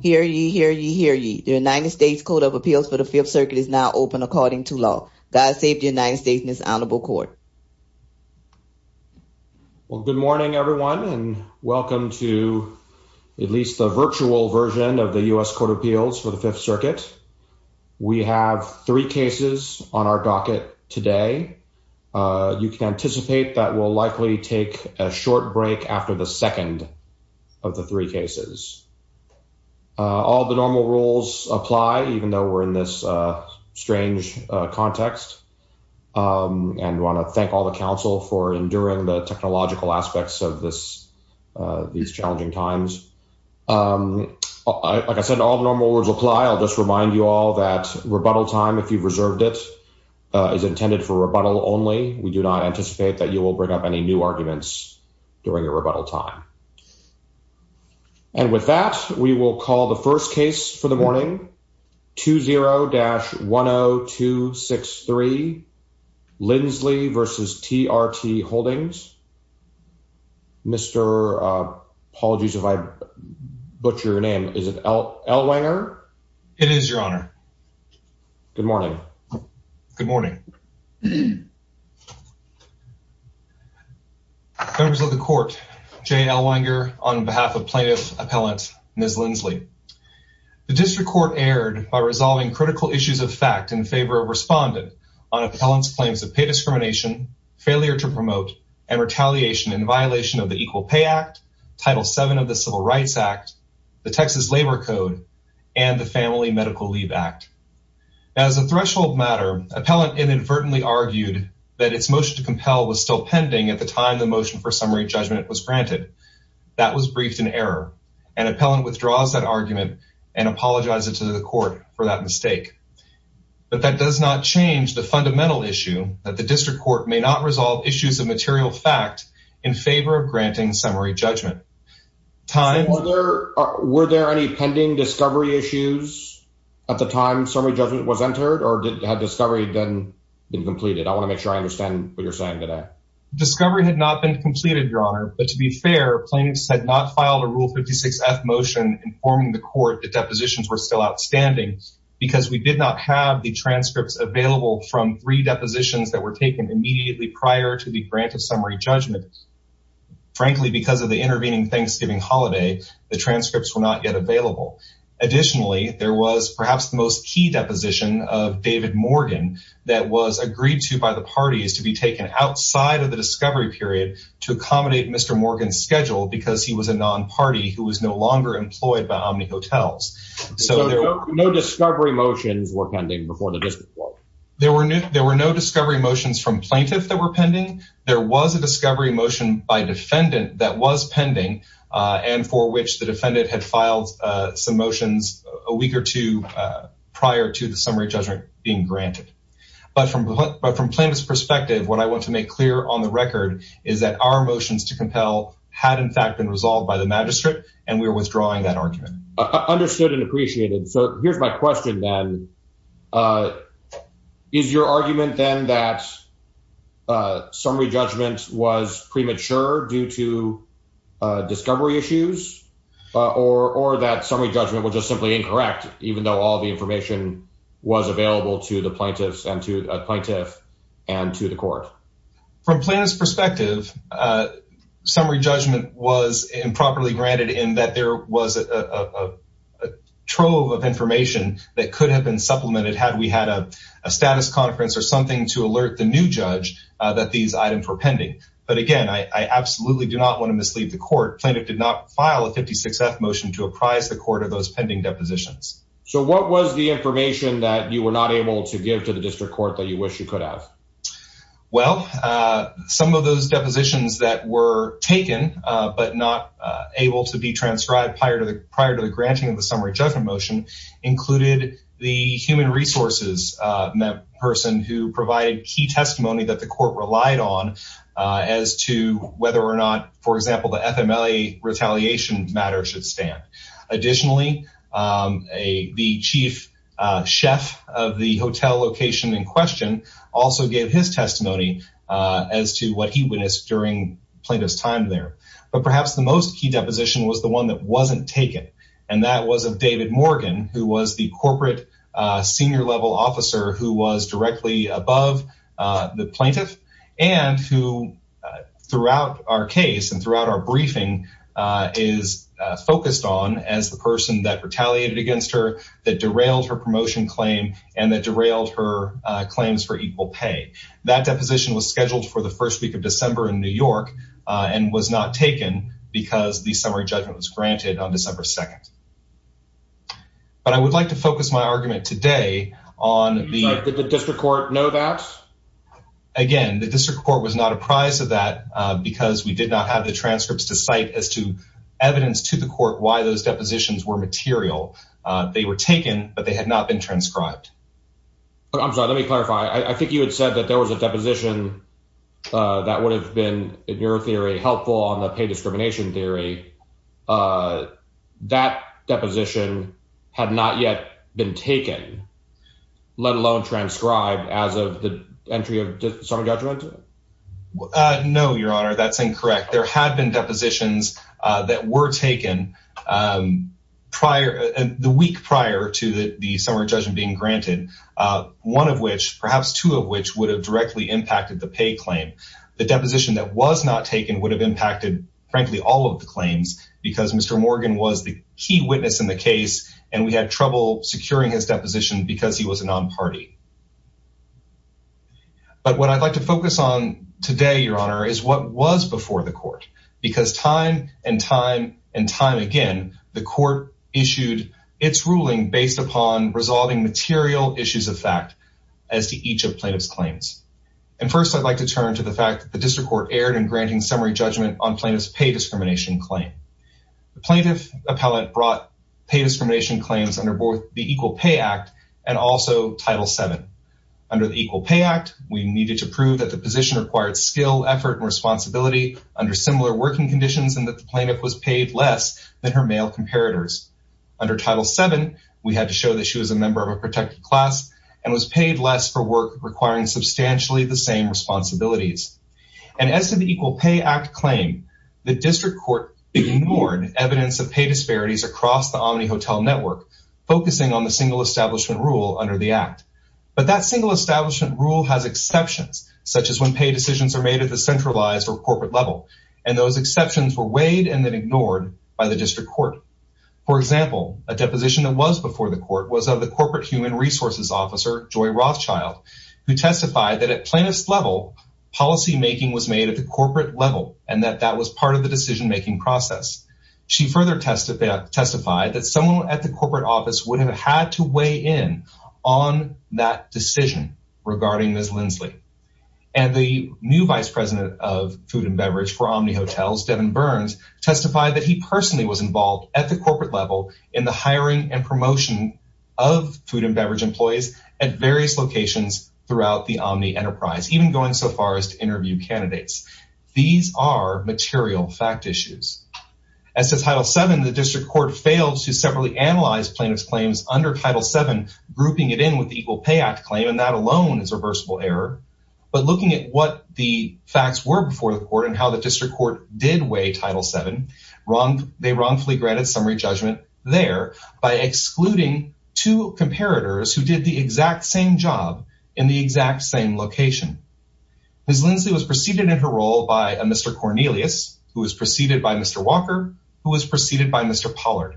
Hear ye, hear ye, hear ye. The United States Code of Appeals for the Fifth Circuit is now open according to law. God save the United States, Ms. Honorable Court. Well, good morning, everyone, and welcome to at least the virtual version of the U.S. Code of Appeals for the Fifth Circuit. We have three cases on our docket today. You can anticipate that we'll likely take a short break after the second of the three cases. All the normal rules apply, even though we're in this strange context, and want to thank all the Council for enduring the technological aspects of these challenging times. Like I said, all the normal rules apply. I'll just remind you all that rebuttal time, if you've reserved it, is intended for rebuttal only. We do not anticipate that you will bring up any new arguments during your rebuttal time. And with that, we will call the first case for the morning, 20-10263, Lindsley v. TRT Holdings. Mr. Apologies if I butcher your name. Is it Elwanger? It is, Your Honor. Good morning. Good morning. Members of the Court, J. Elwanger on behalf of Plaintiff Appellant Ms. Lindsley. The District Court erred by resolving critical issues of fact in favor of respondent on Appellant's claims of pay discrimination, failure to promote, and retaliation in violation of the Equal Pay Act, Title VII of the Civil Rights Act, the Texas Labor Code, and the Family Medical Leave Act. As a threshold matter, Appellant inadvertently argued that its motion to compel was still pending at the time the motion for summary judgment was granted. That was briefed in error, and Appellant withdraws that argument and apologizes to the Court for that mistake. But that does not change the fundamental issue that the District Court may not resolve issues of material fact in favor of granting summary judgment. Were there any pending discovery issues at the time summary judgment was entered, or had discovery been completed? I want to make understand what you're saying today. Discovery had not been completed, Your Honor, but to be fair, Plaintiffs had not filed a Rule 56-F motion informing the Court that depositions were still outstanding because we did not have the transcripts available from three depositions that were taken immediately prior to the grant of summary judgment. Frankly, because of the intervening Thanksgiving holiday, the transcripts were not yet available. Additionally, there was the most key deposition of David Morgan that was agreed to by the parties to be taken outside of the discovery period to accommodate Mr. Morgan's schedule because he was a non-party who was no longer employed by Omni Hotels. So no discovery motions were pending before the District Court? There were no discovery motions from Plaintiffs that were pending. There was a discovery motion by defendant that was pending and for which the defendant had filed some motions a week or two prior to the summary judgment being granted. But from Plaintiffs' perspective, what I want to make clear on the record is that our motions to compel had in fact been resolved by the Magistrate, and we are withdrawing that argument. Understood and appreciated. So here's my question then. Is your argument then that summary judgment was premature due to discovery issues or that summary judgment was just simply incorrect, even though all the information was available to the Plaintiffs and to a Plaintiff and to the Court? From Plaintiffs' perspective, summary judgment was improperly granted in that there was a trove of information that could have been supplemented had we had a status conference or something to alert the new judge that these items were pending. But again, I absolutely do not want to mislead the Court. Plaintiff did not file a 56th motion to apprise the Court of those pending depositions. So what was the information that you were not able to give to the District Court that you wish you could have? Well, some of those depositions that were taken but not able to be transcribed prior to the granting of the summary judgment included the Human Resources person who provided key testimony that the Court relied on as to whether or not, for example, the FMLA retaliation matter should stand. Additionally, the Chief Chef of the hotel location in question also gave his testimony as to what he witnessed during Plaintiff's time there. But perhaps the most key deposition was the one that wasn't taken, and that was of David Morgan, who was the corporate senior-level officer who was directly above the Plaintiff and who, throughout our case and throughout our briefing, is focused on as the person that retaliated against her, that derailed her promotion claim, and that derailed her claims for equal pay. That deposition was scheduled for the first week of September. But I would like to focus my argument today on the... Sorry, did the District Court know that? Again, the District Court was not apprised of that because we did not have the transcripts to cite as to evidence to the Court why those depositions were material. They were taken, but they had not been transcribed. I'm sorry, let me clarify. I think you had said that there was a deposition that would have been, in your theory, helpful on the pay discrimination theory. That deposition had not yet been taken, let alone transcribed, as of the entry of the summary judgment? No, Your Honor, that's incorrect. There had been depositions that were taken prior, the week prior to the summary judgment being granted, one of which, perhaps two of which, would have directly impacted the pay claim. The deposition that was not taken would have impacted, frankly, all of the claims because Mr. Morgan was the key witness in the case and we had trouble securing his deposition because he was a non-party. But what I'd like to focus on today, Your Honor, is what was before the Court. Because time and time and time again, the Court issued its ruling based upon resolving material issues of fact as to each of plaintiff's claims. And first, I'd like to turn to the fact that the District Court erred in granting summary judgment on plaintiff's pay discrimination claim. The plaintiff appellate brought pay discrimination claims under both the Equal Pay Act and also Title VII. Under the Equal Pay Act, we needed to prove that the position required skill, effort, and responsibility under similar working conditions and that the plaintiff was paid less than her male comparators. Under Title VII, we had to show that member of a protected class and was paid less for work requiring substantially the same responsibilities. And as to the Equal Pay Act claim, the District Court ignored evidence of pay disparities across the Omni Hotel Network, focusing on the single establishment rule under the Act. But that single establishment rule has exceptions, such as when pay decisions are made at the centralized or corporate level. And those exceptions were weighed and then ignored by the Corporate Human Resources Officer, Joy Rothschild, who testified that at plaintiff's level, policymaking was made at the corporate level and that that was part of the decision-making process. She further testified that someone at the corporate office would have had to weigh in on that decision regarding Ms. Lindsley. And the new Vice President of Food and Beverage for Omni Hotels, Devin Burns, testified that he personally was involved at the corporate level in the hiring and promotion of food and beverage employees at various locations throughout the Omni enterprise, even going so far as to interview candidates. These are material fact issues. As to Title VII, the District Court failed to separately analyze plaintiff's claims under Title VII, grouping it in with the Equal Pay Act claim, and that alone is a reversible error. But looking at what the facts were before the court and how the District Court did weigh Title VII, they wrongfully granted summary judgment there by excluding two comparators who did the exact same job in the exact same location. Ms. Lindsley was preceded in her role by a Mr. Cornelius, who was preceded by Mr. Walker, who was preceded by Mr. Pollard.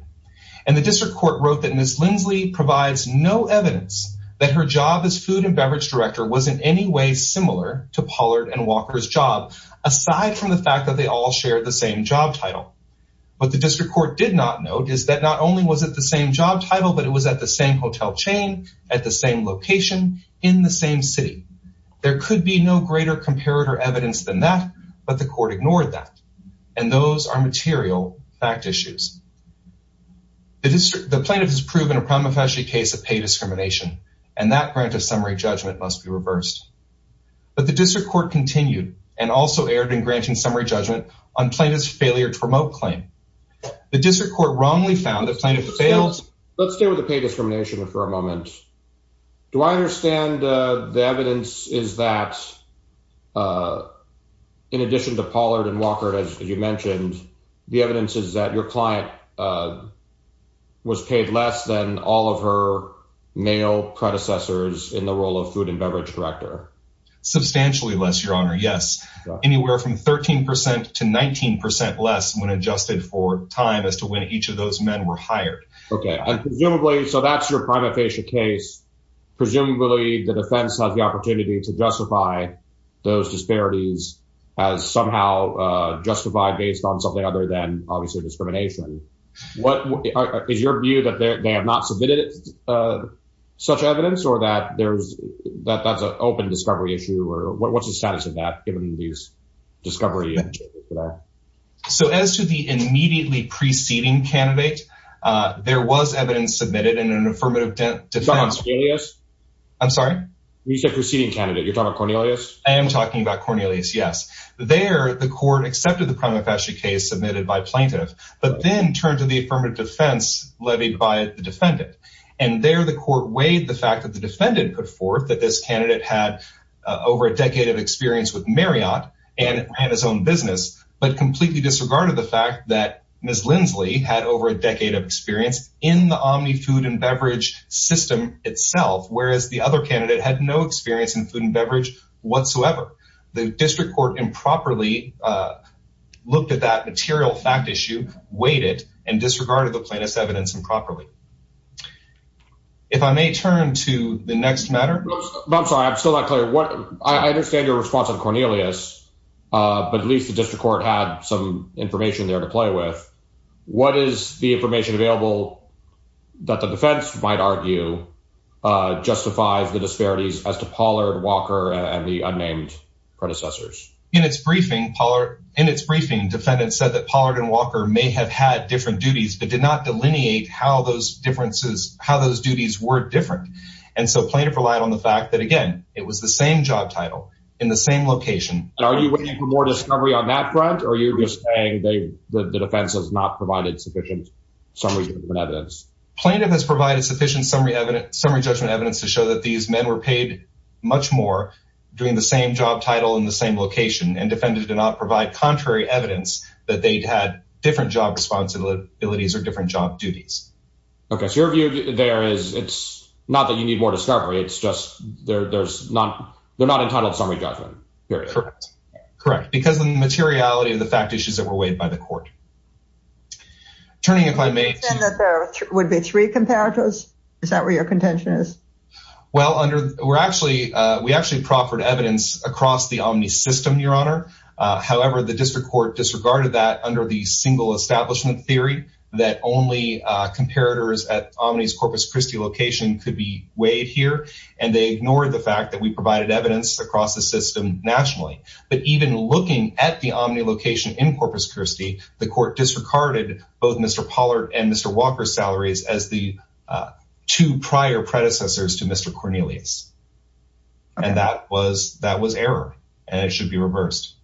And the District Court wrote that Ms. Lindsley provides no evidence that her job as Food and Beverage Director was in any way similar to Pollard and Walker's job, aside from the fact that they all shared the same job title. What the District Court did not note is that not only was it the same job title, but it was at the same hotel chain, at the same location, in the same city. There could be no greater comparator evidence than that, but the court ignored that. And those are material fact issues. The plaintiff has proven a prima facie case of pay discrimination, and that grant of summary judgment must be reversed. But the District Court continued and also erred in granting summary judgment on plaintiff's failure to promote claim. The District Court wrongly found the plaintiff failed... Let's stay with the pay discrimination for a moment. Do I understand the evidence is that in addition to Pollard and Walker, as you mentioned, the evidence is that your client was paid less than all of her male predecessors in the role of Food and Beverage Director? Substantially less, Your Honor, yes. Anywhere from 13% to 19% less when adjusted for time as to when each of those men were hired. Okay, and presumably, so that's your prima facie case. Presumably, the defense has the opportunity to justify those disparities as somehow justified based on something other than, obviously, discrimination. Is your view that they have not submitted such evidence or that that's an open discovery issue? What's the status of that given these discovery... So as to the immediately preceding candidate, there was evidence submitted in an affirmative defense... You're talking about Cornelius? I'm sorry? You said preceding candidate. You're talking about Cornelius? I am talking about Cornelius, yes. There, the court accepted the prima facie case submitted by plaintiff, but then turned to the affirmative defense levied by the defendant. And there, the court weighed the fact that the defendant put forth that this candidate had over a decade of experience with Marriott and ran his own business, but completely disregarded the fact that Ms. Linsley had over a decade of experience in the Omni Food and Beverage system itself, whereas the other candidate had no experience in food and beverage whatsoever. The district court improperly looked at that material fact issue, weighed it, and disregarded the plaintiff's evidence improperly. If I may turn to the next matter... I'm sorry, I'm still not clear. I understand your response on Cornelius, but at least the district court had some information there to play with. What is the information available that the defense might argue justifies the disparities as to Pollard, Walker, and the unnamed predecessors? In its briefing, defendant said that Pollard and Walker may have had different duties, but did not delineate how those duties were different. And so plaintiff relied on the fact that, again, it was the same job title in the same location. Are you waiting for more discovery on that front, or are you just saying that the defense has not provided sufficient summary judgment evidence? Plaintiff has provided sufficient summary judgment evidence to show that these men were paid much more doing the same job title in the same location, and defendant did not provide contrary evidence that they'd had different job responsibilities or different job duties. Okay, so your view there is it's not that you need more discovery, it's just they're not entitled to summary judgment. Correct. Because of the materiality of the fact issues that were weighed by the court. Turning if I may... You said that there would be three comparators? Is that where your contention is? Well, we actually proffered evidence across the Omni system, Your Honor. However, the district court disregarded that under the single establishment theory that only comparators at Omni's Corpus Christi location could be weighed here, and they ignored the fact that we provided evidence across the system nationally. But even looking at the Omni location in Corpus Christi, the court disregarded both Mr. Pollard and Mr. Walker's salaries as the two prior predecessors to Mr. Cornelius. And that was error, and it should be reversed.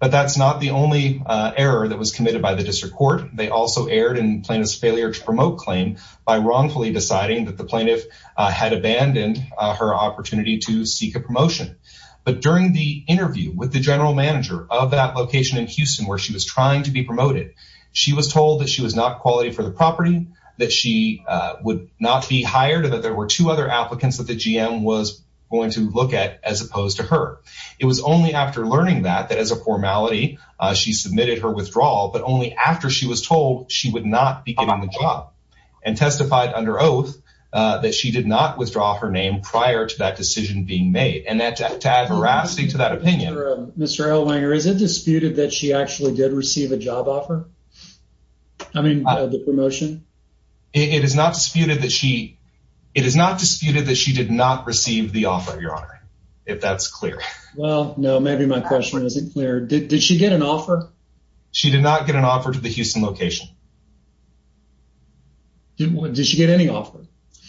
But that's not the only error that was committed by the district court. They also erred in plaintiff's failure to promote claim by wrongfully deciding that the plaintiff had abandoned her opportunity to seek a promotion. But during the interview with the general manager of that location in Houston where she was trying to be promoted, she was told that she was not quality for the property, that she would not be hired, or that there were two other applicants that the GM was going to look at as opposed to her. It was only after learning that, that as a formality, she submitted her withdrawal, but only after she was told she would not be getting the job, and testified under oath that she did not withdraw her name prior to that decision being made. And to add veracity to that opinion... Mr. Elwanger, is it disputed that she actually did receive a job offer? I mean, the promotion? It is not disputed that she, it is not disputed that she did not receive the offer, your honor, if that's clear. Well, no, maybe my question isn't clear. Did she get an offer? She did not get an offer to the Houston location. Did she get any offer?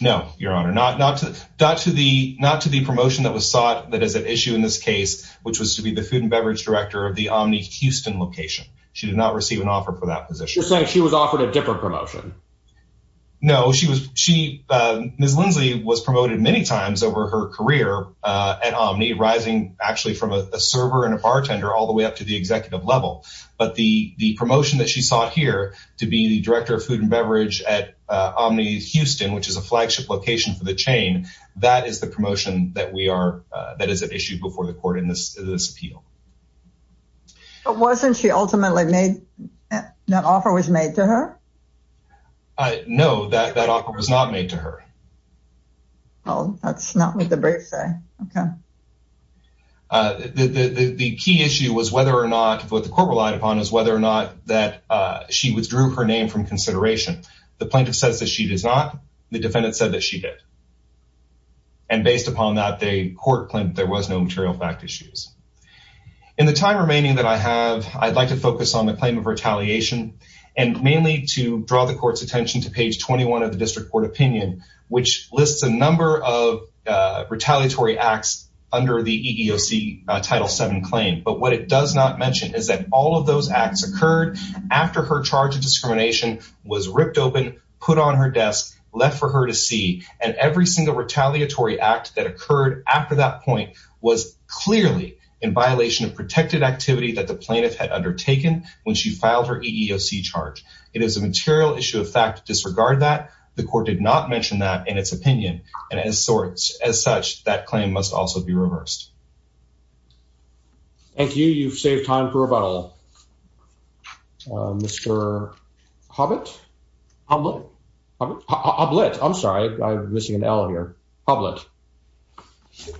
No, your honor, not to the, not to the promotion that was sought that is at issue in this case, which was to be the Food and Beverage Director of the Omni Houston location. She did not receive an offer for that position. You're saying she was offered a different promotion? No, she was, she, Ms. Lindsley was promoted many times over her career at Omni, rising actually from a server and a bartender all the way up to the executive level. But the, the promotion that she sought here to be the Director of Food and That is the promotion that we are, that is at issue before the court in this, this appeal. But wasn't she ultimately made, that offer was made to her? No, that, that offer was not made to her. Well, that's not what the briefs say. Okay. The, the, the key issue was whether or not, what the court relied upon is whether or not that she withdrew her name from consideration. The plaintiff says that she does not. The defendant said that she did. And based upon that, the court claimed there was no material fact issues. In the time remaining that I have, I'd like to focus on the claim of retaliation, and mainly to draw the court's attention to page 21 of the district court opinion, which lists a number of retaliatory acts under the EEOC Title VII claim. But what it does not mention is that all of those acts occurred after her charge of discrimination was ripped open, put on her desk, left for her to see. And every single retaliatory act that occurred after that point was clearly in violation of protected activity that the plaintiff had undertaken when she filed her EEOC charge. It is a material issue of fact to disregard that. The court did not mention that in its opinion. And as sorts, as such, that claim must also be reversed. Thank you. You've saved time for about a little. Mr. Hobbit? Hoblet? Hoblet. I'm sorry. I'm missing an L here. Hoblet.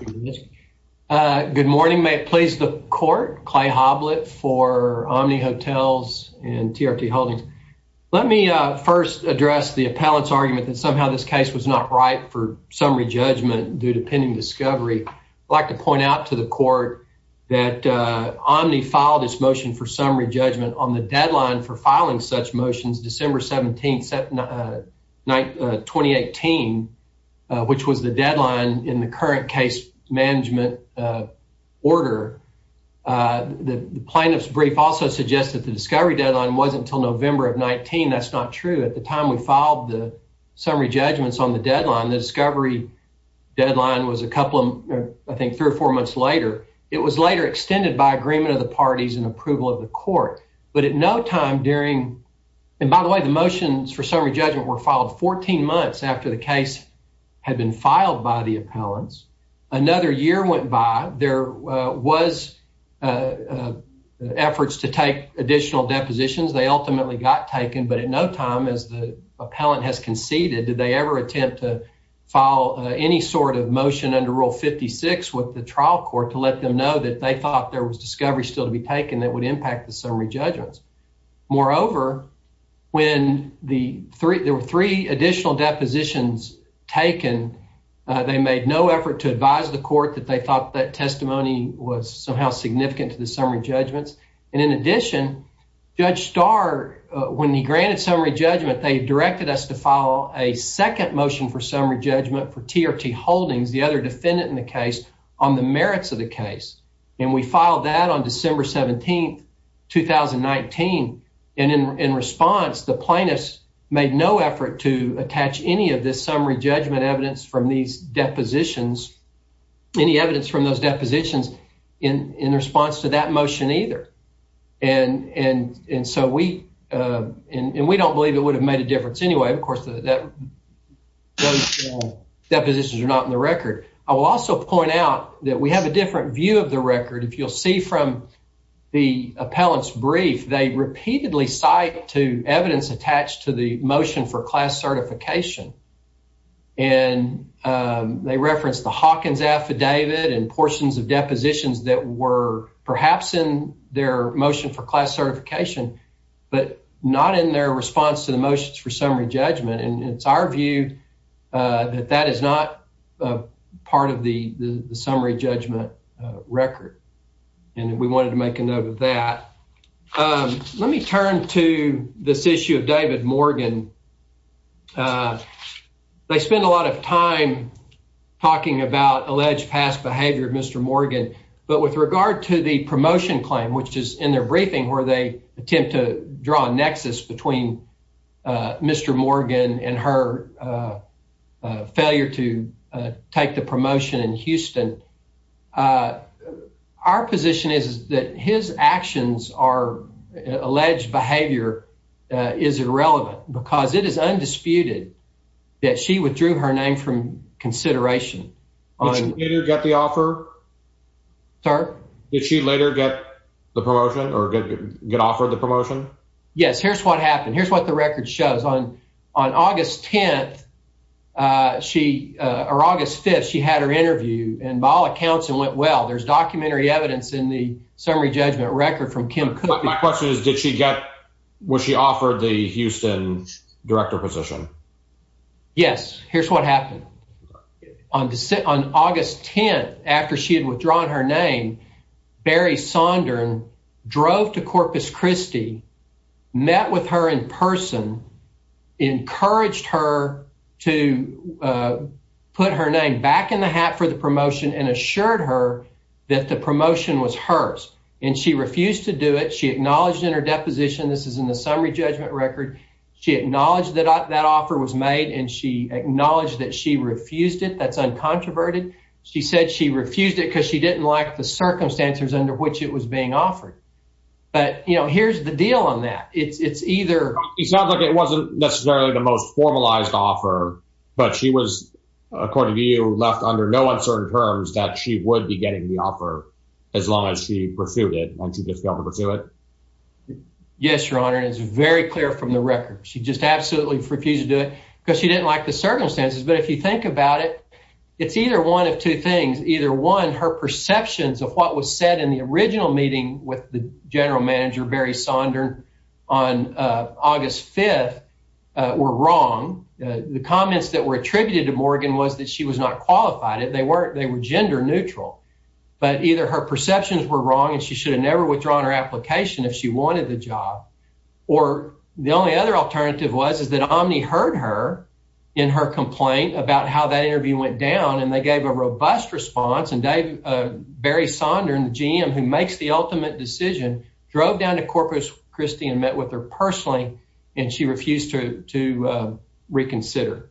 Good morning. May it please the court. Clay Hoblet for Omni Hotels and TRT Holdings. Let me first address the appellate's argument that somehow this case was not ripe for discovery. I'd like to point out to the court that Omni filed its motion for summary judgment on the deadline for filing such motions, December 17, 2018, which was the deadline in the current case management order. The plaintiff's brief also suggests that the discovery deadline wasn't until November of 19. That's not true. At the time we filed the summary judgments on the deadline, the discovery deadline was a couple of, I think, three or four months later. It was later extended by agreement of the parties and approval of the court. But at no time during, and by the way, the motions for summary judgment were filed 14 months after the case had been filed by the appellants. Another year went by. There was efforts to take additional depositions. They ultimately got taken, but in no time as the appellant has conceded, did they ever attempt to file any sort of motion under Rule 56 with the trial court to let them know that they thought there was discovery still to be taken that would impact the summary judgments. Moreover, when there were three additional depositions taken, they made no effort to advise the court that they thought that when he granted summary judgment, they directed us to file a second motion for summary judgment for T.R.T. Holdings, the other defendant in the case, on the merits of the case. And we filed that on December 17, 2019. And in response, the plaintiffs made no effort to attach any of this summary judgment evidence from these depositions, any evidence from those depositions in response to that motion either. And we don't believe it would have made a difference anyway. Of course, those depositions are not in the record. I will also point out that we have a different view of the record. If you'll see from the appellant's brief, they repeatedly cite to evidence attached to the motion for class certification. And they reference the Hawkins affidavit and portions of their motion for class certification, but not in their response to the motions for summary judgment. And it's our view that that is not part of the summary judgment record. And we wanted to make a note of that. Let me turn to this issue of David Morgan. They spend a lot of time talking about alleged past behavior of Mr. Morgan. But with regard to the promotion claim, which is in their briefing where they attempt to draw a nexus between Mr. Morgan and her failure to take the promotion in Houston, our position is that his actions are alleged behavior is irrelevant because it is undisputed that she withdrew her name from consideration. Did she later get the promotion or get offered the promotion? Yes. Here's what happened. Here's what the record shows. On August 5th, she had her interview. And by all accounts, it went well. There's documentary evidence in the summary judgment record from Kim. My question is, was she offered the Houston director position? Yes. Here's what happened. On August 10th, after she had withdrawn her name, Barry Sondran drove to Corpus Christi, met with her in person, encouraged her to put her name back in the hat for the promotion and assured her that the promotion was hers. And she refused to do it. She acknowledged in her deposition, this is in the summary judgment record. She acknowledged that that offer was made and she acknowledged that she refused it. That's uncontroverted. She said she refused it because she didn't like the circumstances under which it was being offered. But, you know, here's the deal on that. It's either it's not like it wasn't necessarily the most formalized offer, but she was, according to you, left under no uncertain terms that she would be getting the offer as long as she pursued it and she just refused to do it? Yes, your honor. It's very clear from the record. She just absolutely refused to do it because she didn't like the circumstances. But if you think about it, it's either one of two things. Either one, her perceptions of what was said in the original meeting with the general manager, Barry Sondran, on August 5th were wrong. The comments that were attributed to Morgan was that she was not qualified. They weren't. They were gender neutral. But either her perceptions were wrong and she would have withdrawn her application if she wanted the job. Or the only other alternative was is that Omni heard her in her complaint about how that interview went down and they gave a robust response and Barry Sondran, the GM who makes the ultimate decision, drove down to Corpus Christi and met with her personally and she refused to reconsider.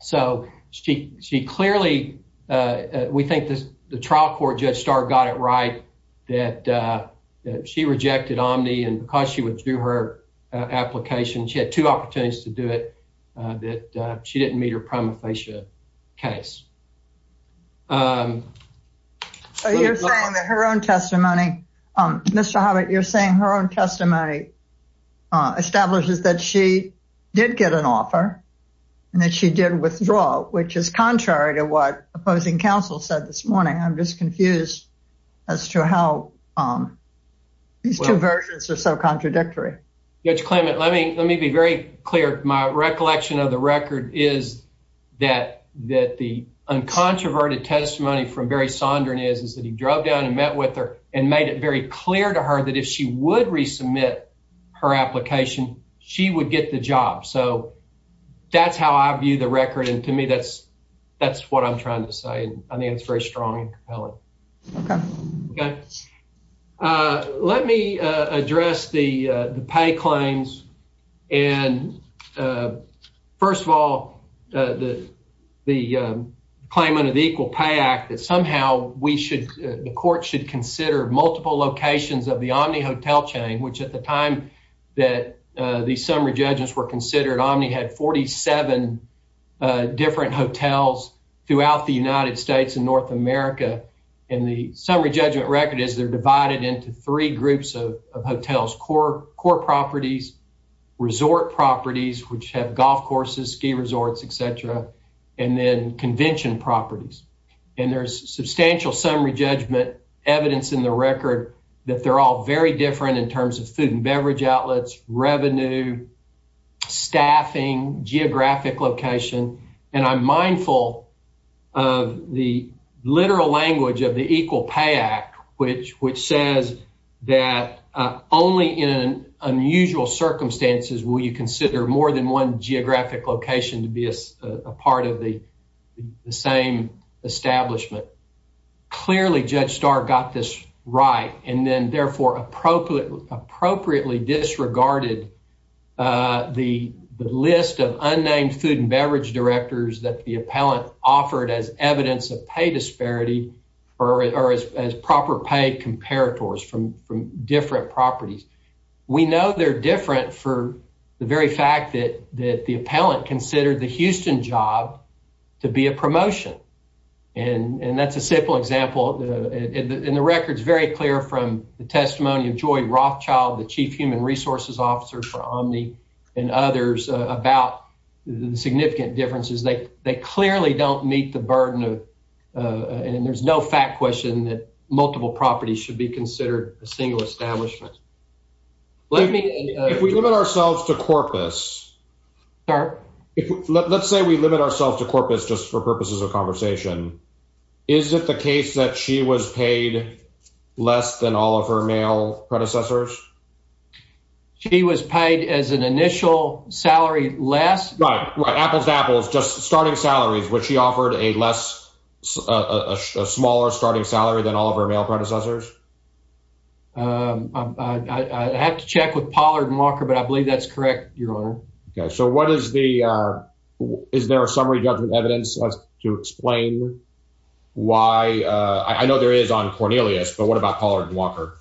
So she clearly, we think the trial court judge Starr got it right that she rejected Omni and because she would do her application, she had two opportunities to do it, that she didn't meet her prima facie case. So you're saying that her own testimony, Mr. Hobbit, you're saying her own testimony establishes that she did get an offer and that she did withdraw, which is contrary to what opposing counsel said this morning. I'm just confused as to how these two versions are so contradictory. Judge Clement, let me be very clear. My recollection of the record is that the uncontroverted testimony from Barry Sondran is that he drove down and met with her and made it very clear to her that if she would resubmit her application, she would get the job. So that's what I'm trying to say. I think it's very strong and compelling. Let me address the pay claims. First of all, the claim under the Equal Pay Act that somehow the court should consider multiple locations of the Omni hotel chain, which at the time that these summary throughout the United States and North America. And the summary judgment record is they're divided into three groups of hotels, core properties, resort properties, which have golf courses, ski resorts, et cetera, and then convention properties. And there's substantial summary judgment evidence in the record that they're all very different in terms of food and beverage of the literal language of the Equal Pay Act, which says that only in unusual circumstances will you consider more than one geographic location to be a part of the same establishment. Clearly, Judge Starr got this right and then therefore appropriately disregarded the list of unnamed food and beverage directors that the appellant offered as evidence of pay disparity or as proper pay comparators from different properties. We know they're different for the very fact that the appellant considered the Houston job to be a promotion. And that's a simple example. And the record is very clear from the testimony of Joy Rothschild, the Chief Human Resources Officer for Omni and others about the significant differences. They clearly don't meet the burden of and there's no fact question that multiple properties should be considered a single establishment. Let me... If we limit ourselves to corpus... Sorry? Let's say we limit ourselves to corpus just for purposes of conversation. Is it the case that she was paid less than all of her male predecessors? She was paid as an initial salary less? Right. Apples to apples, just starting salaries, which she offered a smaller starting salary than all of her male predecessors. I'd have to check with Pollard and Walker, but I believe that's correct, Your Honor. So what is the... Is there a summary judgment evidence to explain why... I know there is on Cornelius, but what about Pollard and Walker?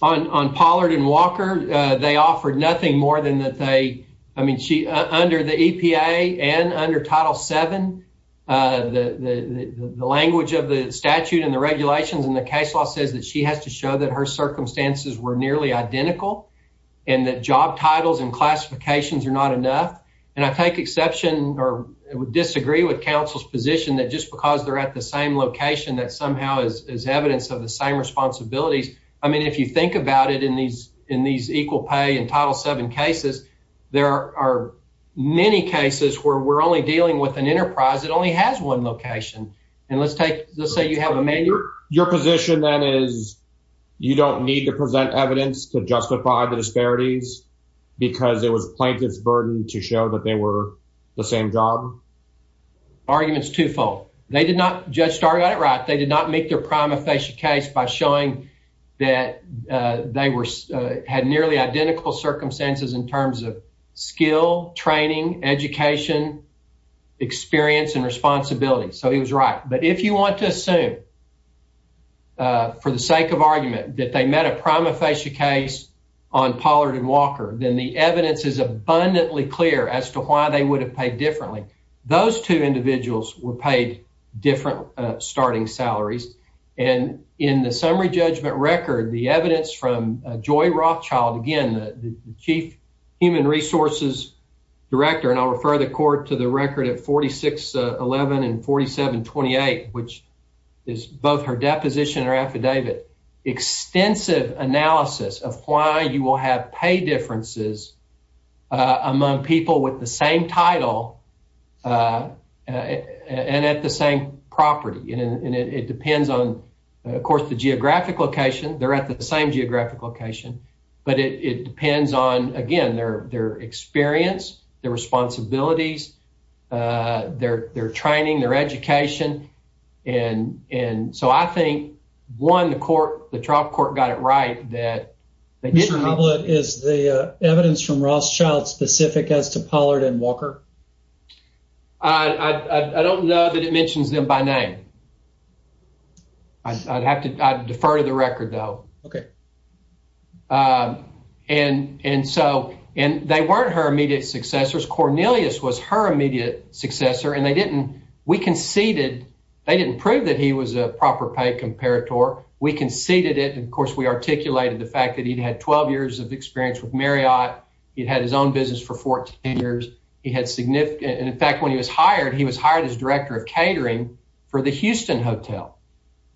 On Pollard and Walker, they offered nothing more than that they... I mean, under the EPA and under Title VII, the language of the statute and the regulations and the case law says that she has to show that her circumstances were nearly identical and that job titles and classifications are not enough. And I take exception or disagree with counsel's position that just because they're at the same location that somehow is evidence of the same responsibilities. I mean, if you think about it in these equal pay and Title VII cases, there are many cases where we're only dealing with an enterprise that only has one location. And let's take... Let's say you have a... Your position then is you don't need to present evidence to justify the disparities because it was plaintiff's burden to show that they were the same job? Argument's twofold. They did not... Judge Starr got it right. They did not make their prima facie case by showing that they had nearly identical circumstances in terms of skill, training, education, experience and responsibility. So he was right. But if you want to assume for the sake of argument that they met a prima facie case on Pollard and Walker, then the evidence is abundantly clear as to why they would have paid differently. Those two individuals were paid different starting salaries. And in the summary judgment record, the evidence from Joy Rothschild, again, the Chief Human Resources Director, and I'll refer the court to the record at 4611 and 4728, which is both her deposition or affidavit, extensive analysis of why you will have pay differences among people with the same title and at the same property. And it depends on, of course, the geographic location. They're at the same geographic location, but it depends on, again, their experience, their responsibilities, their training, their education. And so I think, one, the trial court got it right that... Is the evidence from Rothschild specific as to Pollard and Walker? I don't know that it mentions them by name. I'd have to defer to the record, though. Okay. And so they weren't her immediate successors. Cornelius was her immediate successor, and they didn't... We conceded... They didn't prove that he was a proper pay comparator. We conceded it. And, of course, we articulated the fact that he'd had 12 years of experience with Marriott. He'd had his own business for 14 years. He had significant... And, in fact, when he was hired, he was hired as director of catering for the Houston Hotel.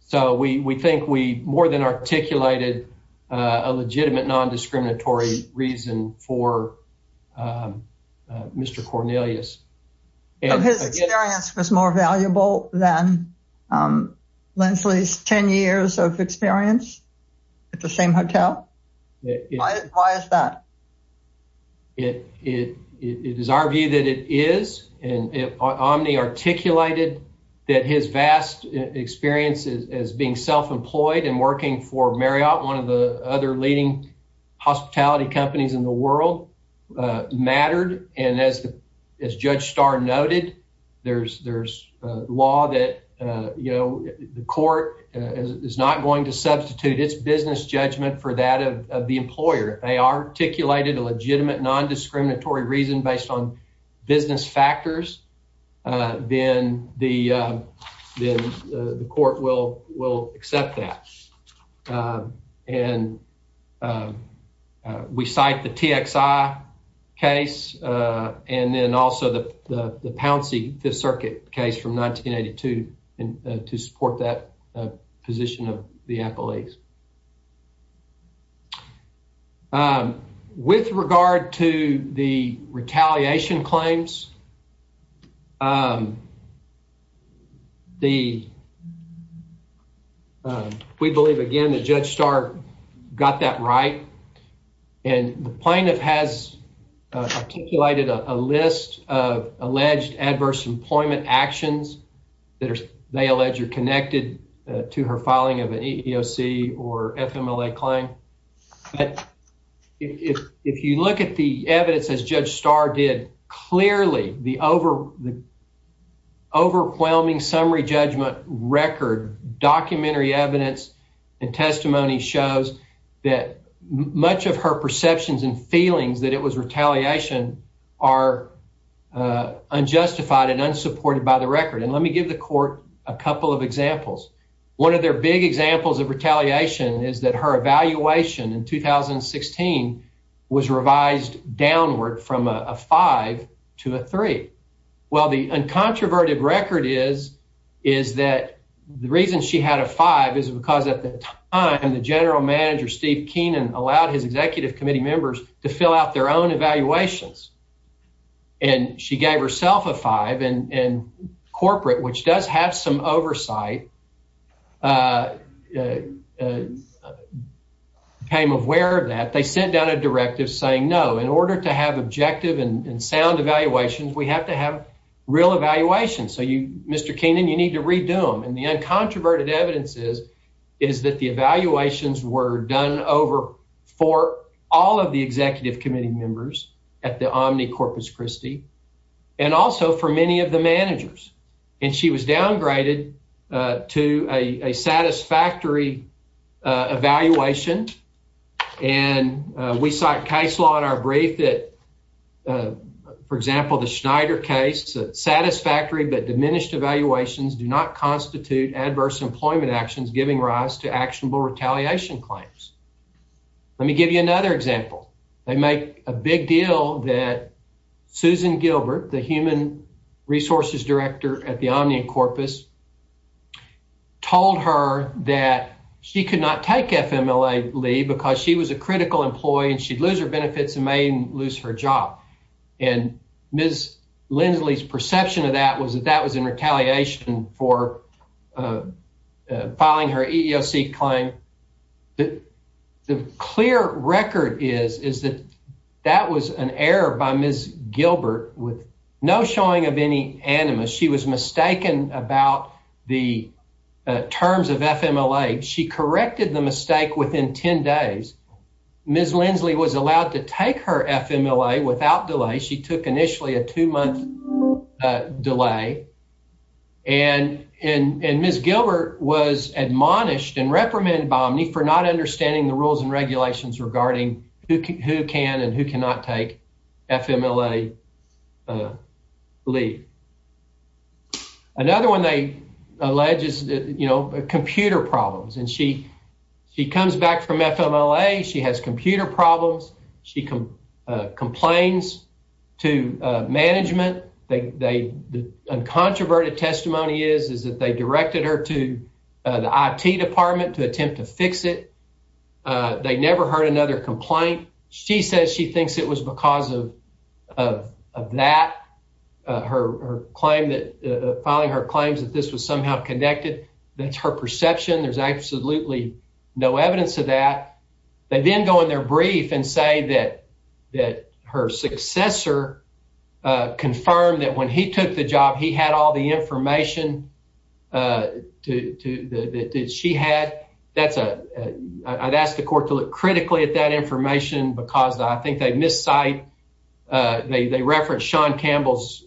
So we think we more than articulated a legitimate non-discriminatory reason for Mr. Cornelius. His experience was more valuable than Linsley's 10 years of experience at the same hotel? Why is that? It is our view that it is, and Omni articulated that his vast experience as being self-employed and working for Marriott, one of the other leading hospitality companies in the world, mattered. And as Judge Starr noted, there's law that the court is not going to substitute its business judgment for that of the employer. They articulated a legitimate non-discriminatory reason based on business factors, then the court will accept that. And we cite the TXI case and then also the Pouncey Fifth Circuit case from 1982 to support that position of the employees. With regard to the retaliation claims, we believe, again, that Judge Starr got that right. And the plaintiff has articulated a list of alleged adverse employment actions that they allege are connected to her filing of an EEOC or FMLA claim. But if you look at the evidence, as Judge Starr did, clearly the overwhelming summary judgment record, documentary evidence, and testimony shows that much of her perceptions and feelings that it was retaliation are unjustified and unsupported by the record. And let me give the court a couple of examples. One of their big examples of retaliation is that her evaluation in 2016 was revised downward from a 5 to a 3. Well, the uncontroverted record is that the reason she had a 5 is because at the time the general manager, Steve Keenan, allowed his executive committee members to fill out their own evaluations. And she gave herself a 5. And corporate, which does have some oversight, became aware of that. They sent down a directive saying, no, in order to have objective and sound evaluations, we have to have real evaluations. So, Mr. Keenan, you need to redo them. And the for all of the executive committee members at the Omni Corpus Christi and also for many of the managers. And she was downgraded to a satisfactory evaluation. And we cite case law in our brief that, for example, the Schneider case, satisfactory but diminished evaluations do not constitute adverse employment actions giving rise to actionable retaliation claims. Let me give you another example. They make a big deal that Susan Gilbert, the human resources director at the Omni Corpus, told her that she could not take FMLA leave because she was a critical employee and she'd lose her benefits and may lose her job. And Ms. Lindsley's perception of that was that was in retaliation for filing her EEOC claim. The clear record is that that was an error by Ms. Gilbert with no showing of any animus. She was mistaken about the terms of FMLA. She corrected the mistake within 10 days. Ms. Lindsley was allowed to take her FMLA without delay. She took initially a two-month delay. And Ms. Gilbert was admonished and reprimanded by Omni for not understanding the rules and regulations regarding who can and who cannot take FMLA leave. Another one they allege is computer problems. And she comes back from FMLA. She has computer problems. She complains to management. The uncontroverted testimony is that they directed her to the IT department to attempt to fix it. They never heard another complaint. She says she thinks it was because of that, filing her claims that this was somehow connected. That's her perception. There's absolutely no evidence of that. They then go in their brief and say that her successor confirmed that when he took the job, he had all the information that she had. I'd ask the court to look critically at that information because I think they cite Sean Campbell's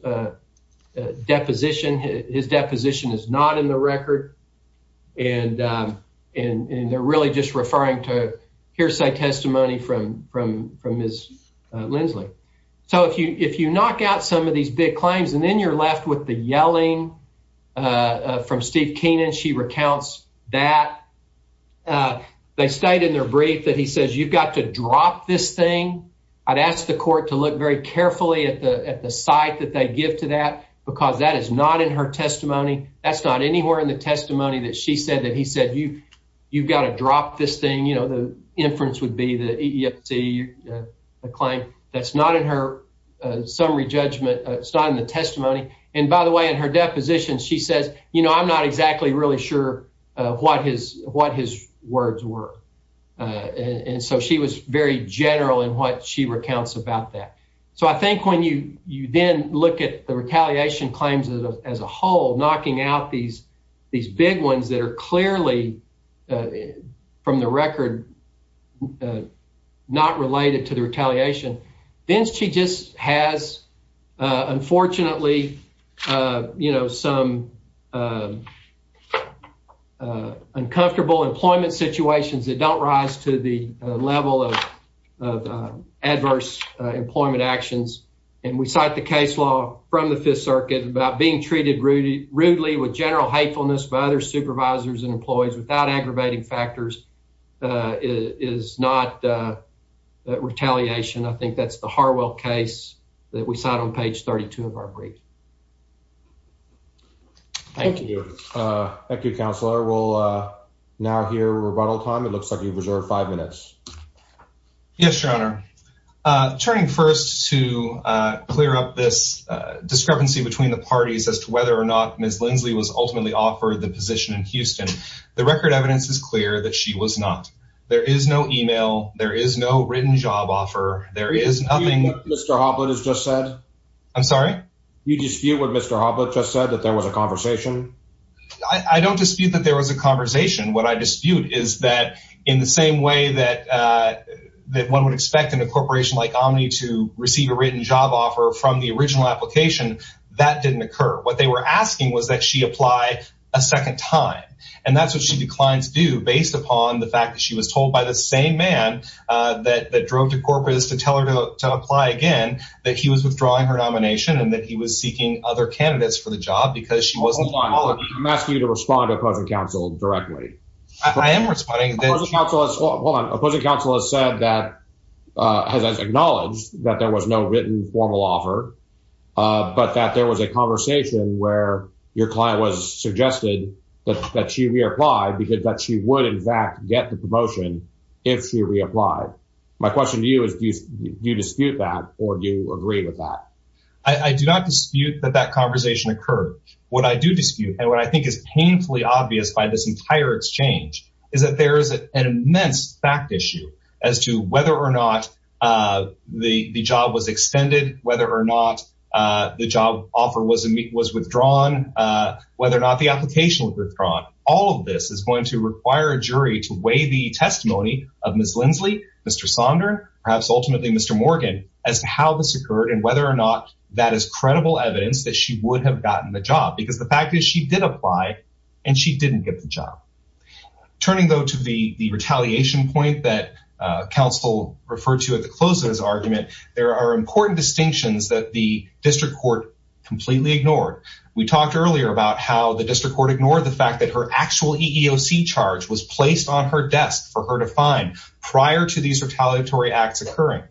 deposition. His deposition is not in the record. And they're really just referring to hearsay testimony from Ms. Lindsley. So if you knock out some of these big claims and then you're left with the yelling from Steve Keenan, she recounts that. They state in their brief that he says, you've got to drop this thing. I'd ask the court to look very carefully at the site that they give to that because that is not in her testimony. That's not anywhere in the testimony that she said that he said, you've got to drop this thing. You know, the inference would be the EEOC claim. That's not in her summary judgment. It's not in the testimony. And by the way, in her deposition, she says, you know, I'm not exactly really sure what his words were. And so she was very general in what she recounts about that. So I think when you then look at the retaliation claims as a whole, knocking out these big ones that are clearly from the record not related to the retaliation, then she just has, unfortunately, you know, some uncomfortable employment situations that don't rise to the level of adverse employment actions. And we cite the case law from the Fifth Circuit about being treated rudely with general hatefulness by other supervisors and employees without aggravating factors is not retaliation. I cite on page 32 of our brief. Thank you. Thank you, counselor. We'll now hear rebuttal time. It looks like you've reserved five minutes. Yes, your honor. Turning first to clear up this discrepancy between the parties as to whether or not Ms. Lindsley was ultimately offered the position in Houston. The record evidence is clear that she was not. There is no email. There is no written job offer. There is nothing. Mr. Hobbit has just said. I'm sorry. You dispute what Mr. Hobbit just said, that there was a conversation. I don't dispute that there was a conversation. What I dispute is that in the same way that one would expect in a corporation like Omni to receive a written job offer from the original application, that didn't occur. What they were asking was that she apply a second time. And that's what she declines to do based upon the fact that she was told by the same man that drove to Corpus to tell her to apply again, that he was withdrawing her nomination and that he was seeking other candidates for the job because she wasn't. I'm asking you to respond to opposing counsel directly. I am responding. Opposing counsel has said that has acknowledged that there was no written formal offer, but that there was a conversation where your client was suggested that she reapply because she would, in fact, get the promotion if she reapplied. My question to you is, do you dispute that or do you agree with that? I do not dispute that that conversation occurred. What I do dispute and what I think is painfully obvious by this entire exchange is that there is an immense fact issue as to whether or not the job was extended, whether or not the job offer was withdrawn, whether or not the application was withdrawn. All of this is going to require a jury to weigh the testimony of Ms. Lindsley, Mr. Sonder, perhaps ultimately Mr. Morgan, as to how this occurred and whether or not that is credible evidence that she would have gotten the job. Because the fact is she did apply and she didn't get the job. Turning though to the retaliation point that counsel referred to at the close of his argument, there are important distinctions that the the district court ignored the fact that her actual EEOC charge was placed on her desk for her to find prior to these retaliatory acts occurring.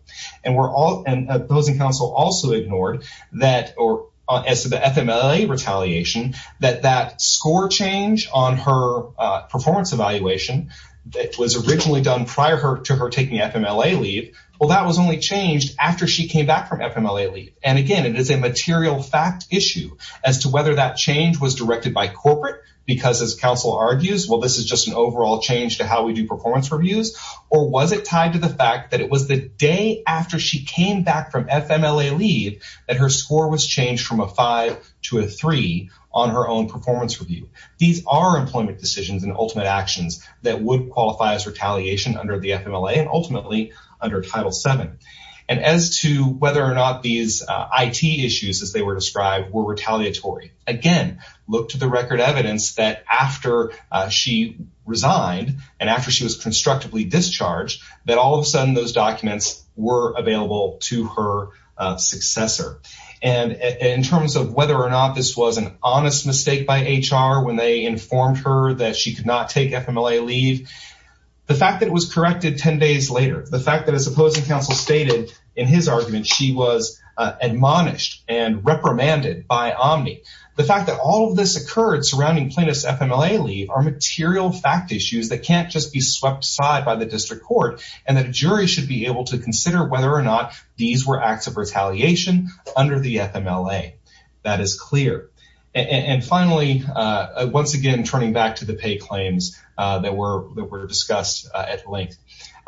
Those in counsel also ignored that or as to the FMLA retaliation that that score change on her performance evaluation that was originally done prior to her taking FMLA leave, well that was only changed after she came back from FMLA leave. And again it is a material fact issue as to whether that change was directed by corporate because as counsel argues well this is just an overall change to how we do performance reviews or was it tied to the fact that it was the day after she came back from FMLA leave that her score was changed from a five to a three on her own performance review. These are employment decisions and ultimate actions that would qualify as retaliation under the FMLA and ultimately under Title VII. And as to whether or not these IT issues as they were described were retaliatory, again look to the record evidence that after she resigned and after she was constructively discharged that all of a sudden those documents were available to her successor. And in terms of whether or not this was an honest mistake by HR when they informed her that she could not take FMLA leave, the fact that it was corrected 10 days later, the fact that as opposing counsel stated in his argument she was admonished and reprimanded by Omni, the fact that all of this occurred surrounding plaintiff's FMLA leave are material fact issues that can't just be swept aside by the district court and that a jury should be able to consider whether or not these were acts of retaliation under the FMLA. That is clear. And finally once again turning back to the pay claims that were discussed at length,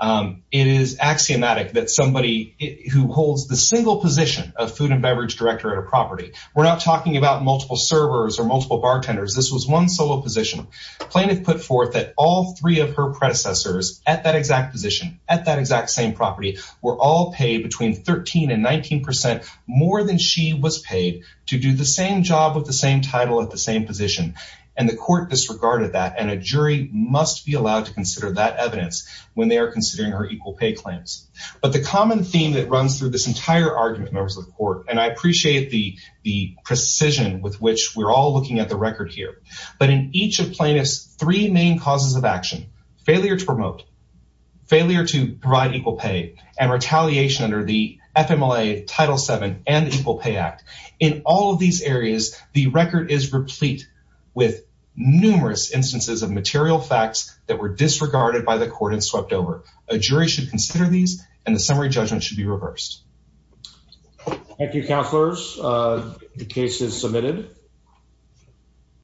it is axiomatic that somebody who holds the single position of food and beverage director at a property, we're not talking about multiple servers or multiple bartenders, this was one solo position, plaintiff put forth that all three of her predecessors at that exact position at that exact same property were all paid between 13 and 19 percent more than she was paid to do the same job with the same title at the same position. And the court disregarded that and a jury must be allowed to consider that evidence when they are considering her equal pay claims. But the common theme that runs through this entire argument members of the court, and I appreciate the precision with which we're all looking at the record here, but in each of plaintiff's three main causes of action, failure to promote, failure to provide equal pay, and retaliation under the FMLA Title VII and Equal Pay Act, in all of these areas the record is replete with numerous instances of material facts that were disregarded by the court and swept over. A jury should consider these and the summary judgment should be reversed. Thank you, counselors. The case is submitted.